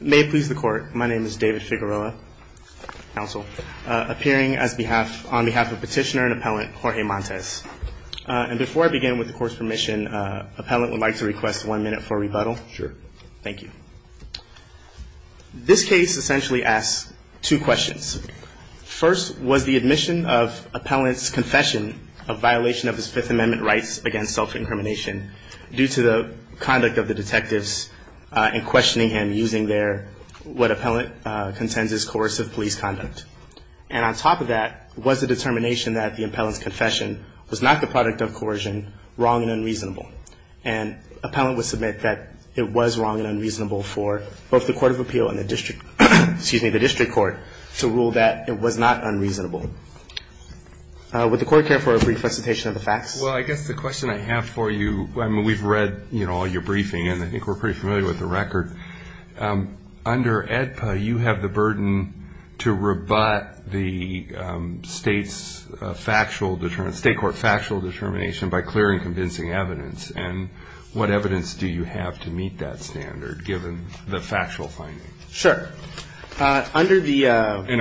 May it please the court, my name is David Figueroa, appearing on behalf of petitioner and appellant Jorge Montes. Before I begin, with the court's permission, the appellant would like to request one minute for a rebuttal. Sure. Thank you. This case essentially asks two questions. First, was the admission of the appellant's confession a violation of his Fifth Amendment rights against self-incrimination due to the conduct of the detectives in questioning him using their, what appellant contends is coercive police conduct? And on top of that, was the determination that the appellant's confession was not the product of coercion wrong and unreasonable? And appellant would submit that it was wrong and unreasonable for both the Court of Appeal and the district, excuse me, the district court to rule that it was not unreasonable. Would the court care for a brief presentation of the facts? Well, I guess the question I have for you, I mean, we've read, you know, all your briefing, and I think we're pretty familiar with the record. Under AEDPA, you have the burden to rebut the state's factual, state court factual determination by clear and convincing evidence. And what evidence do you have to meet that standard, given the factual finding? Sure. And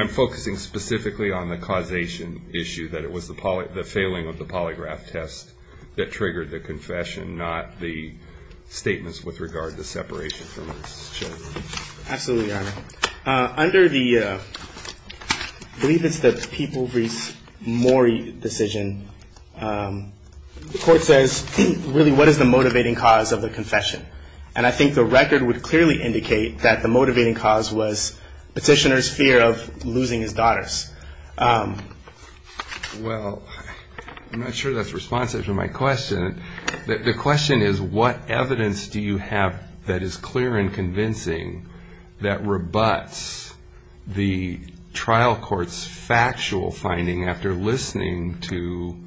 I'm focusing specifically on the causation issue, that it was the failing of the polygraph test that triggered the confession, not the statements with regard to separation from its charge. Absolutely, Your Honor. Under the, I believe it's the People v. Morey decision, the court says, really, what is the motivating cause of the confession? And I think the record would clearly indicate that the motivating cause was petitioner's fear of losing his daughters. Well, I'm not sure that's responsive to my question. The question is, what evidence do you have that is clear and convincing that rebuts the trial court's factual finding after listening to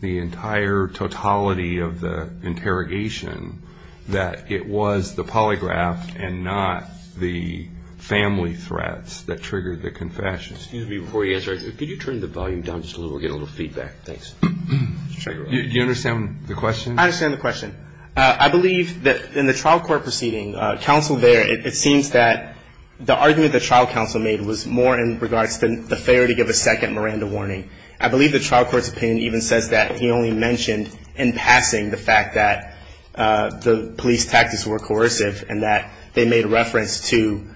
the entire totality of the interrogation, that it was the polygraph and not the family threats that triggered the confession? Excuse me before you answer. Could you turn the volume down just a little bit, get a little feedback? Thanks. Do you understand the question? I understand the question. I believe that in the trial court proceeding, counsel there, it seems that the argument the trial counsel made was more in regards to the failure to give a second Miranda warning. I believe the trial court's opinion even says that he only mentioned in passing the fact that the police tactics were coercive and that they made reference to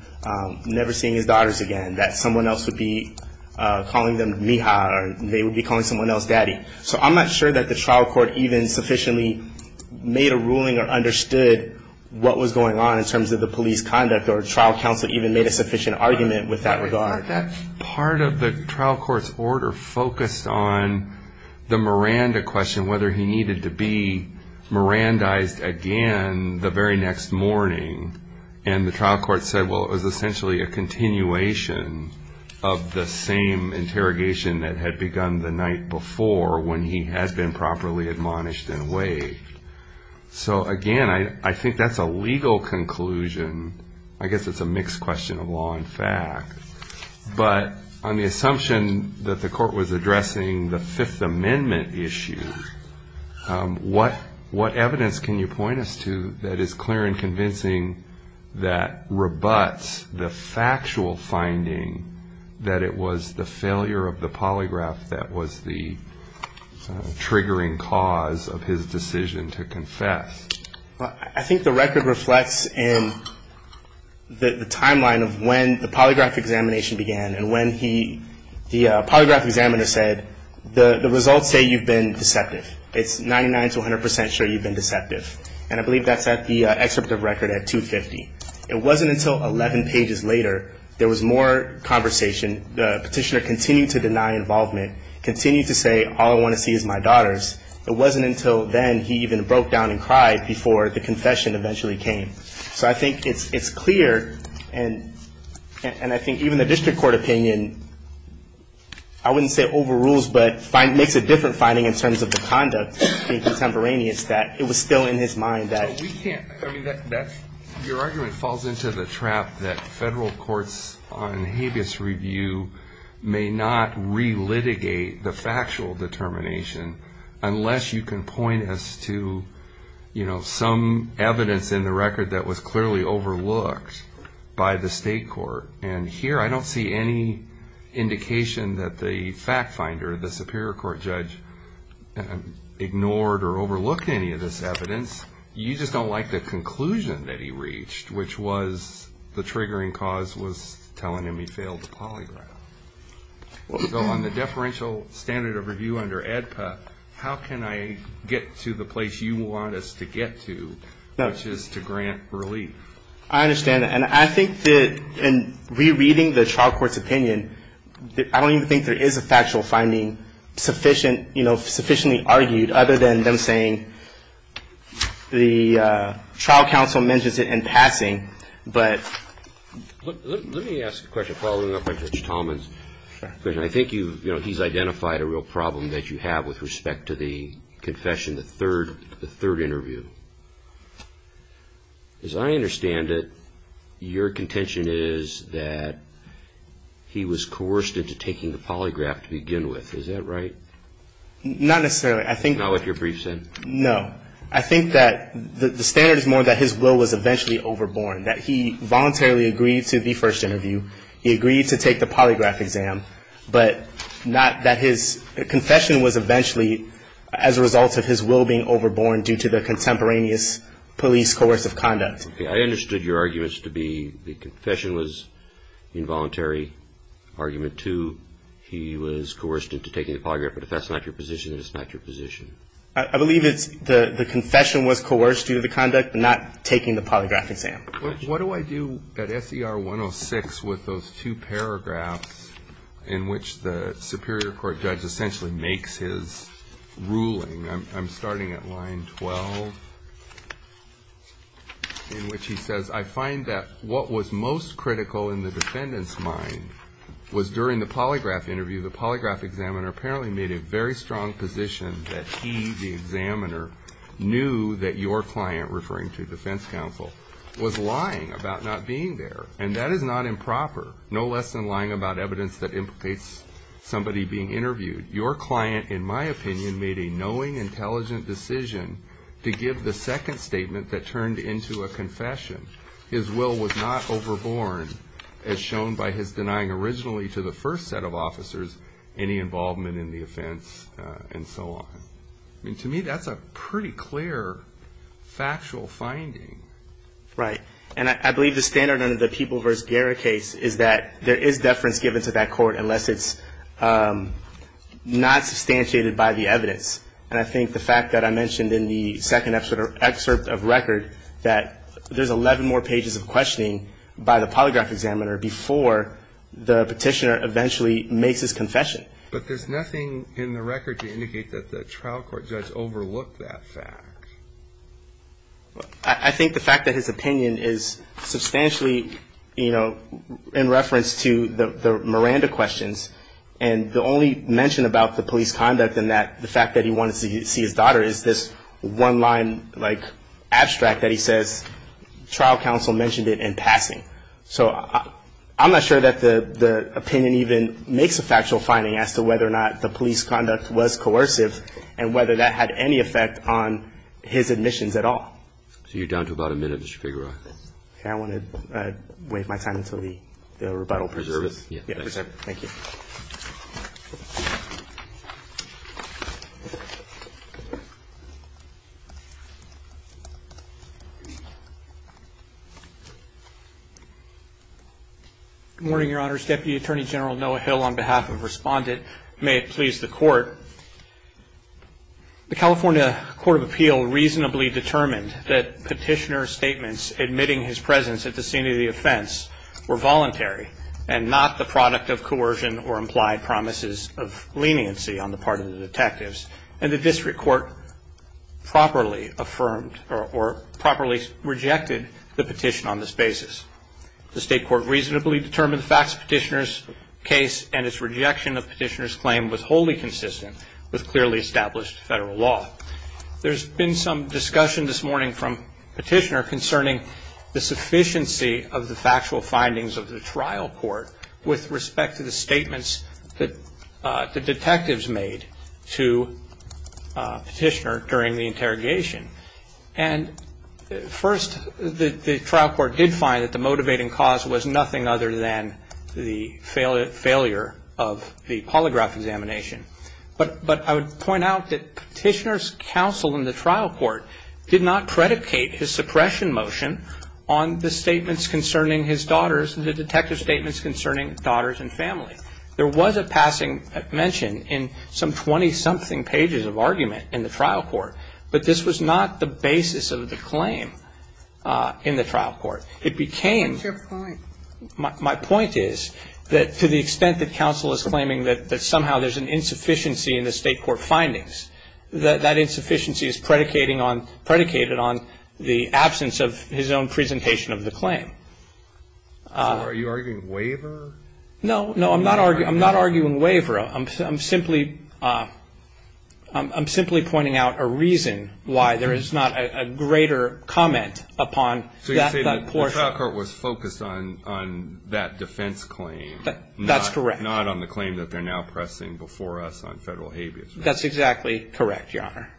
never seeing his daughters again, that someone else would be calling them mija or they would be calling someone else daddy. So I'm not sure that the trial court even sufficiently made a ruling or understood what was going on in terms of the police conduct or trial counsel even made a sufficient argument with that regard. Part of the trial court's order focused on the Miranda question, whether he needed to be Mirandized again the very next morning. And the trial court said, well, it was essentially a continuation of the same interrogation that had begun the night before when he had been properly admonished and waived. So, again, I think that's a legal conclusion. I guess it's a mixed question of law and fact. But on the assumption that the court was addressing the Fifth Amendment issue, what evidence can you point us to that is clear and convincing that rebuts the factual finding that it was the failure of the polygraph that was the triggering cause of his decision to confess? I think the record reflects in the timeline of when the polygraph examination began and when the polygraph examiner said, the results say you've been deceptive. It's 99 to 100 percent sure you've been deceptive. And I believe that's at the excerpt of record at 250. It wasn't until 11 pages later there was more conversation. The petitioner continued to deny involvement, continued to say, all I want to see is my daughters. It wasn't until then he even broke down and cried before the confession eventually came. So I think it's clear, and I think even the district court opinion, I wouldn't say overrules, but makes a different finding in terms of the conduct being contemporaneous, that it was still in his mind that... Your argument falls into the trap that federal courts on habeas review may not relitigate the factual determination unless you can point us to some evidence in the record that was clearly overlooked by the state court. And here I don't see any indication that the fact finder, the superior court judge, ignored or overlooked any of this evidence. You just don't like the conclusion that he reached, which was the triggering cause was telling him he failed to polygraph. So on the deferential standard of review under ADPA, how can I get to the place you want us to get to, which is to grant relief? I understand that, and I think that in rereading the trial court's opinion, I don't even think there is a factual finding sufficiently argued other than them saying the trial counsel mentions it in passing, but... Let me ask a question following up on Judge Talman's question. I think he's identified a real problem that you have with respect to the confession, the third interview. As I understand it, your contention is that he was coerced into taking the polygraph to begin with. Is that right? Not necessarily. I think... Not what your brief said? No. I think that the standard is more that his will was eventually overborne, that he voluntarily agreed to the first interview, he agreed to take the polygraph exam, but not that his confession was eventually as a result of his will being overborne due to the contemporaneous police coercive conduct. I understood your arguments to be the confession was involuntary, argument two, he was coerced into taking the polygraph, but if that's not your position, then it's not your position. I believe it's the confession was coerced due to the conduct, not taking the polygraph exam. What do I do at S.E.R. 106 with those two paragraphs in which the superior court judge essentially makes his ruling? I'm starting at line 12, in which he says, I find that what was most critical in the defendant's mind was during the polygraph interview, the polygraph examiner apparently made a very strong position that he, the examiner, knew that your client, referring to defense counsel, was lying about not being there. And that is not improper, no less than lying about evidence that implicates somebody being interviewed. Your client, in my opinion, made a knowing, intelligent decision to give the second statement that turned into a confession. His will was not overborne, as shown by his denying originally to the first set of officers any involvement in the offense, and so on. I mean, to me, that's a pretty clear factual finding. Right. And I believe the standard under the People v. Guerra case is that there is deference given to that court unless it's not substantiated by the evidence. And I think the fact that I mentioned in the second excerpt of record that there's 11 more pages of questioning by the polygraph examiner before the petitioner eventually makes his confession. But there's nothing in the record to indicate that the trial court judge overlooked that fact. I think the fact that his opinion is substantially, you know, in reference to the Miranda questions, and the only mention about the police conduct and the fact that he wanted to see his daughter is this one-line, like, abstract that he says trial counsel mentioned it in passing. So I'm not sure that the opinion even makes a factual finding as to whether or not the police conduct was coercive and whether that had any effect on his admissions at all. So you're down to about a minute, Mr. Figueroa. I want to waive my time until the rebuttal. Good morning, Your Honors. Deputy Attorney General Noah Hill on behalf of Respondent. May it please the Court. The California Court of Appeal reasonably determined that petitioner statements admitting his presence at the scene of the offense were voluntary and not the product of coercion or implied promises of leniency on the part of the detectives. And the district court properly affirmed or properly rejected the petition on this basis. The state court reasonably determined the facts of the petitioner's case and its rejection of the petitioner's claim was wholly consistent with clearly established federal law. There's been some discussion this morning from petitioner concerning the sufficiency of the factual findings of the trial court with respect to the statements that the detectives made to petitioner during the interrogation. And first, the trial court did find that the motivating cause was nothing other than the failure of the polygraph examination. But I would point out that petitioner's counsel in the trial court did not predicate his suppression motion on the statements concerning his daughters and the detective statements concerning daughters and family. There was a passing mention in some 20-something pages of argument in the trial court. But this was not the basis of the claim in the trial court. It became my point is that to the extent that counsel is claiming that somehow there's an insufficiency in the state court findings, that that insufficiency is predicated on the absence of his own presentation of the claim. Are you arguing waiver? No, no, I'm not arguing waiver. I'm simply pointing out a reason why there is not a greater comment upon that portion. The trial court was focused on that defense claim. That's correct. Not on the claim that they're now pressing before us on federal habeas. That's exactly correct, Your Honor.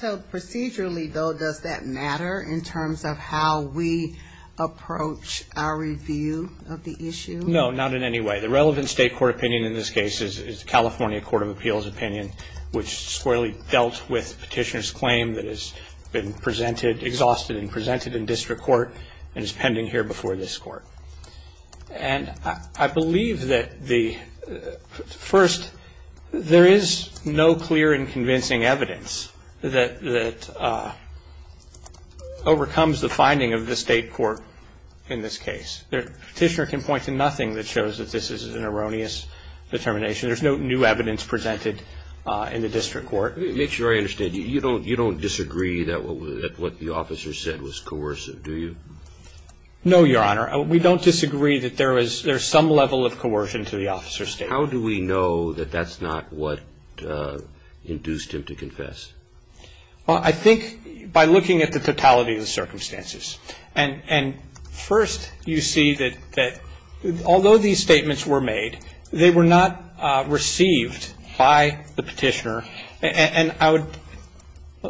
So procedurally, though, does that matter in terms of how we approach our review of the issue? No, not in any way. The relevant state court opinion in this case is the California Court of Appeals opinion, which squarely dealt with petitioner's claim that has been presented, exhausted and presented in district court and is pending here before this court. And I believe that the first, there is no clear and convincing evidence that overcomes the finding of the state court in this case. Petitioner can point to nothing that shows that this is an erroneous determination. There's no new evidence presented in the district court. Your Honor, make sure I understand. You don't disagree that what the officer said was coercive, do you? No, Your Honor. We don't disagree that there is some level of coercion to the officer's statement. How do we know that that's not what induced him to confess? Well, I think by looking at the totality of the circumstances. And first you see that although these statements were made, they were not received by the petitioner. And I would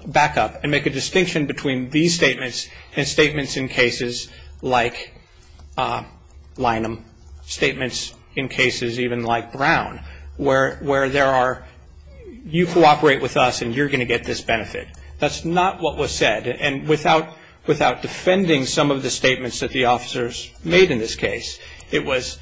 back up and make a distinction between these statements and statements in cases like Lynham, statements in cases even like Brown, where there are, you cooperate with us and you're going to get this benefit. That's not what was said. And without defending some of the statements that the officers made in this case, it was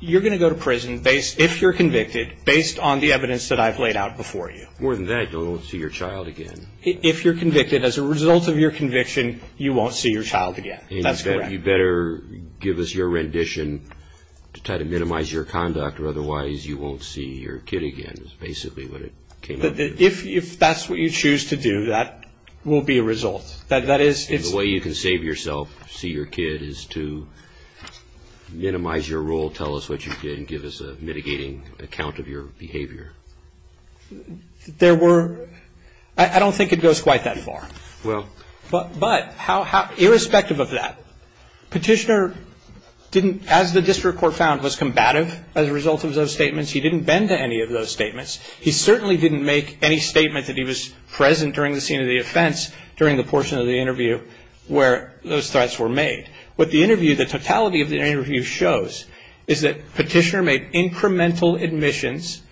you're going to go to prison if you're convicted based on the evidence that I've laid out before you. More than that, you won't see your child again. If you're convicted as a result of your conviction, you won't see your child again. That's correct. You better give us your rendition to try to minimize your conduct, or otherwise you won't see your kid again is basically what it came up with. If that's what you choose to do, that will be a result. The way you can save yourself, see your kid, is to minimize your role, tell us what you did and give us a mitigating account of your behavior. There were, I don't think it goes quite that far. But irrespective of that, petitioner didn't, as the district court found, was combative as a result of those statements, he didn't bend to any of those statements. He certainly didn't make any statement that he was present during the scene of the offense during the portion of the interview where those threats were made. What the interview, the totality of the interview shows is that petitioner made incremental admissions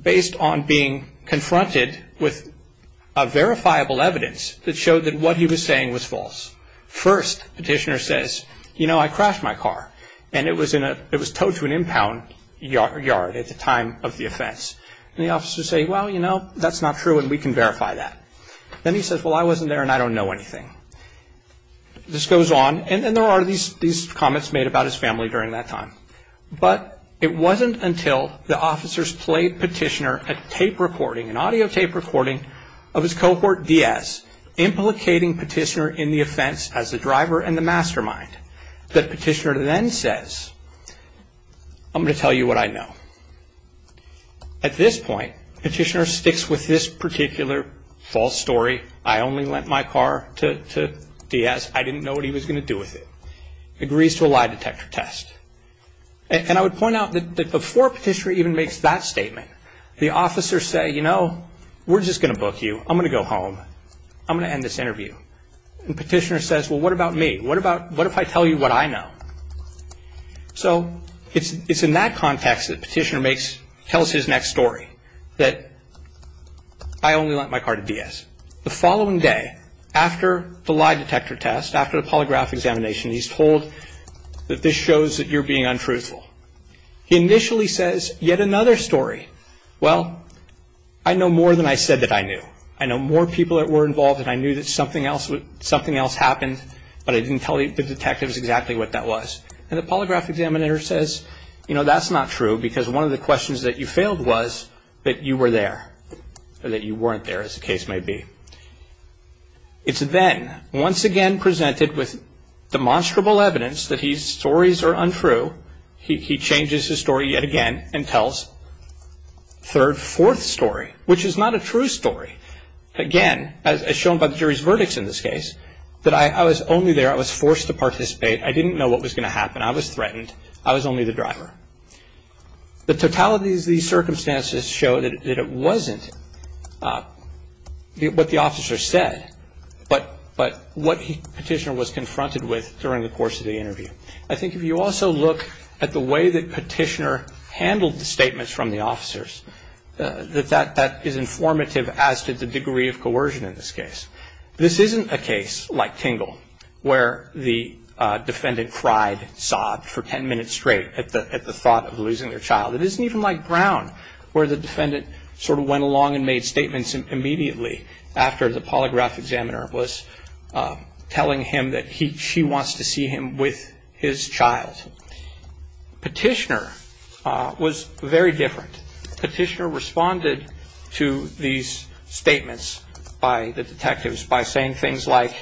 based on being confronted with a verifiable evidence that showed that what he was saying was false. First, petitioner says, you know, I crashed my car, and it was towed to an impound yard at the time of the offense. And the officers say, well, you know, that's not true and we can verify that. Then he says, well, I wasn't there and I don't know anything. This goes on, and then there are these comments made about his family during that time. But it wasn't until the officers played petitioner a tape recording, an audio tape recording, of his cohort DS implicating petitioner in the offense as the driver and the mastermind that petitioner then says, I'm going to tell you what I know. At this point, petitioner sticks with this particular false story, I only lent my car to DS, I didn't know what he was going to do with it, agrees to a lie detector test. And I would point out that before petitioner even makes that statement, the officers say, you know, we're just going to book you, I'm going to go home, I'm going to end this interview. And petitioner says, well, what about me? What if I tell you what I know? So it's in that context that petitioner tells his next story, that I only lent my car to DS. The following day, after the lie detector test, after the polygraph examination, he's told that this shows that you're being untruthful. He initially says, yet another story. Well, I know more than I said that I knew. I know more people that were involved and I knew that something else happened, but I didn't tell the detectives exactly what that was. And the polygraph examiner says, you know, that's not true, because one of the questions that you failed was that you were there, or that you weren't there, as the case may be. It's then once again presented with demonstrable evidence that his stories are untrue. He changes his story yet again and tells third, fourth story, which is not a true story. Again, as shown by the jury's verdicts in this case, that I was only there, I was forced to participate. I didn't know what was going to happen, I was threatened, I was only the driver. The totalities of these circumstances show that it wasn't what the officer said, but what Petitioner was confronted with during the course of the interview. I think if you also look at the way that Petitioner handled the statements from the officers, that is informative as to the degree of coercion in this case. This isn't a case like Tingle, where the defendant cried, sobbed for ten minutes straight at the thought of losing their child. It isn't even like Brown, where the defendant sort of went along and made statements immediately after the polygraph examiner was telling him that she wants to see him with his child. Petitioner was very different. Petitioner responded to these statements by the detectives by saying things like,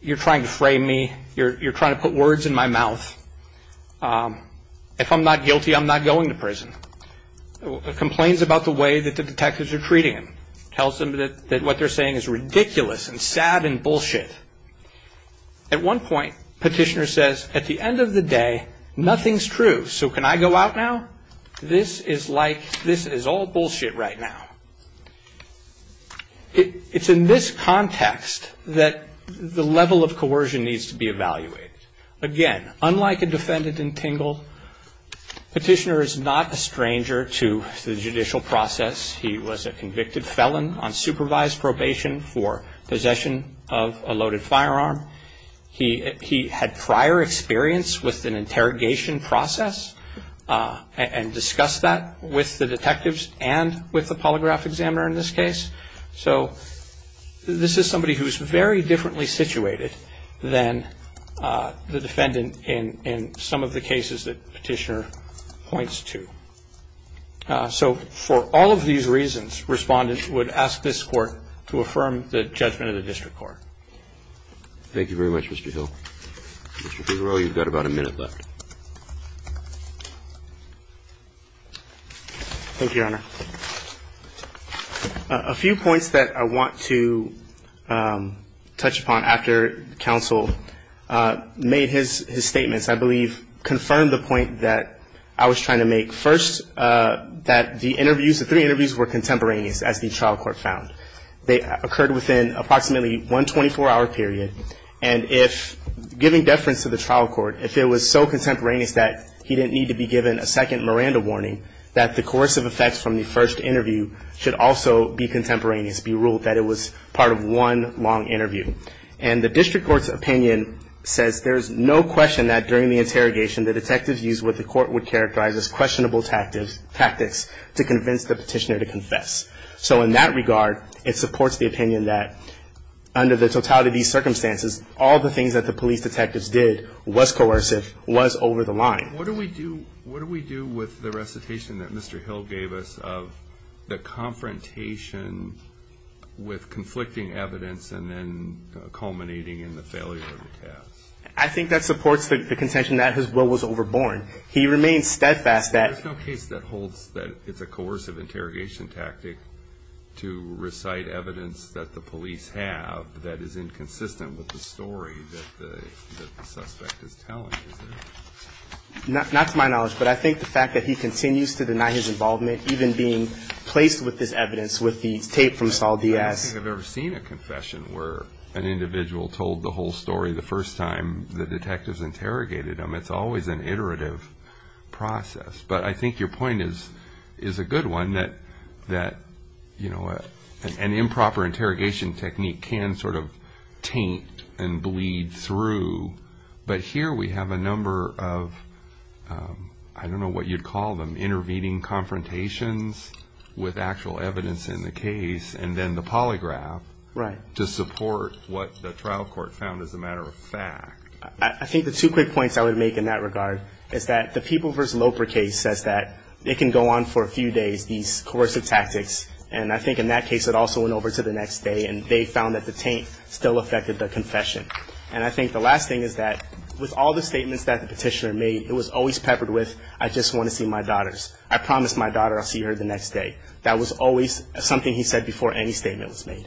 you're trying to frame me, you're trying to put words in my mouth. If I'm not guilty, I'm not going to prison. Complains about the way that the detectives are treating him. Tells him that what they're saying is ridiculous and sad and bullshit. At one point, Petitioner says, at the end of the day, nothing's true, so can I go out now? This is like, this is all bullshit right now. It's in this context that the level of coercion needs to be evaluated. Again, unlike a defendant in Tingle, Petitioner is not a stranger to the judicial process. He was a convicted felon on supervised probation for possession of a loaded firearm. He had prior experience with an interrogation process and discussed that with the detectives and with the polygraph examiner in this case. So this is somebody who's very differently situated than the defendant in some of the cases that Petitioner points to. So for all of these reasons, respondents would ask this court to affirm the judgment of the district court. Thank you very much, Mr. Hill. Mr. Figueroa, you've got about a minute left. Thank you, Your Honor. A few points that I want to touch upon after counsel made his statements, I believe, confirmed the point that I was trying to make. First, that the interviews, the three interviews were contemporaneous, as the trial court found. They occurred within approximately one 24-hour period, and if, giving deference to the trial court, if it was so contemporaneous that he didn't need to be given a second Miranda warning, that the coercive effects from the first interview should also be contemporaneous, be ruled that it was part of one long interview. And the district court's opinion says there's no question that during the interrogation, the detectives used what the court would characterize as questionable tactics to convince the petitioner to confess. So in that regard, it supports the opinion that under the totality of these circumstances, all the things that the police detectives did was coercive, was over the line. What do we do with the recitation that Mr. Hill gave us of the confrontation with conflicting evidence and then culminating in the failure of the test? I think that supports the contention that his will was overborne. He remains steadfast that... There's no case that holds that it's a coercive interrogation tactic to recite evidence that the police have that is inconsistent with the story that the suspect is telling, is there? Not to my knowledge, but I think the fact that he continues to deny his involvement, even being placed with this evidence with the tape from Saul Diaz... I don't think I've ever seen a confession where an individual told the whole story the first time the detectives interrogated him. It's always an iterative process. But I think your point is a good one, that an improper interrogation technique can sort of taint and bleed through. But here we have a number of, I don't know what you'd call them, intervening confrontations with actual evidence in the case, and then the polygraph to support what the trial court found as a matter of fact. I think the two quick points I would make in that regard is that the People v. Loper case says that it can go on for a few days, these coercive tactics, and I think in that case it also went over to the next day and they found that the taint still affected the confession. And I think the last thing is that with all the statements that the petitioner made, it was always peppered with, I just want to see my daughters. I promise my daughter I'll see her the next day. That was always something he said before any statement was made.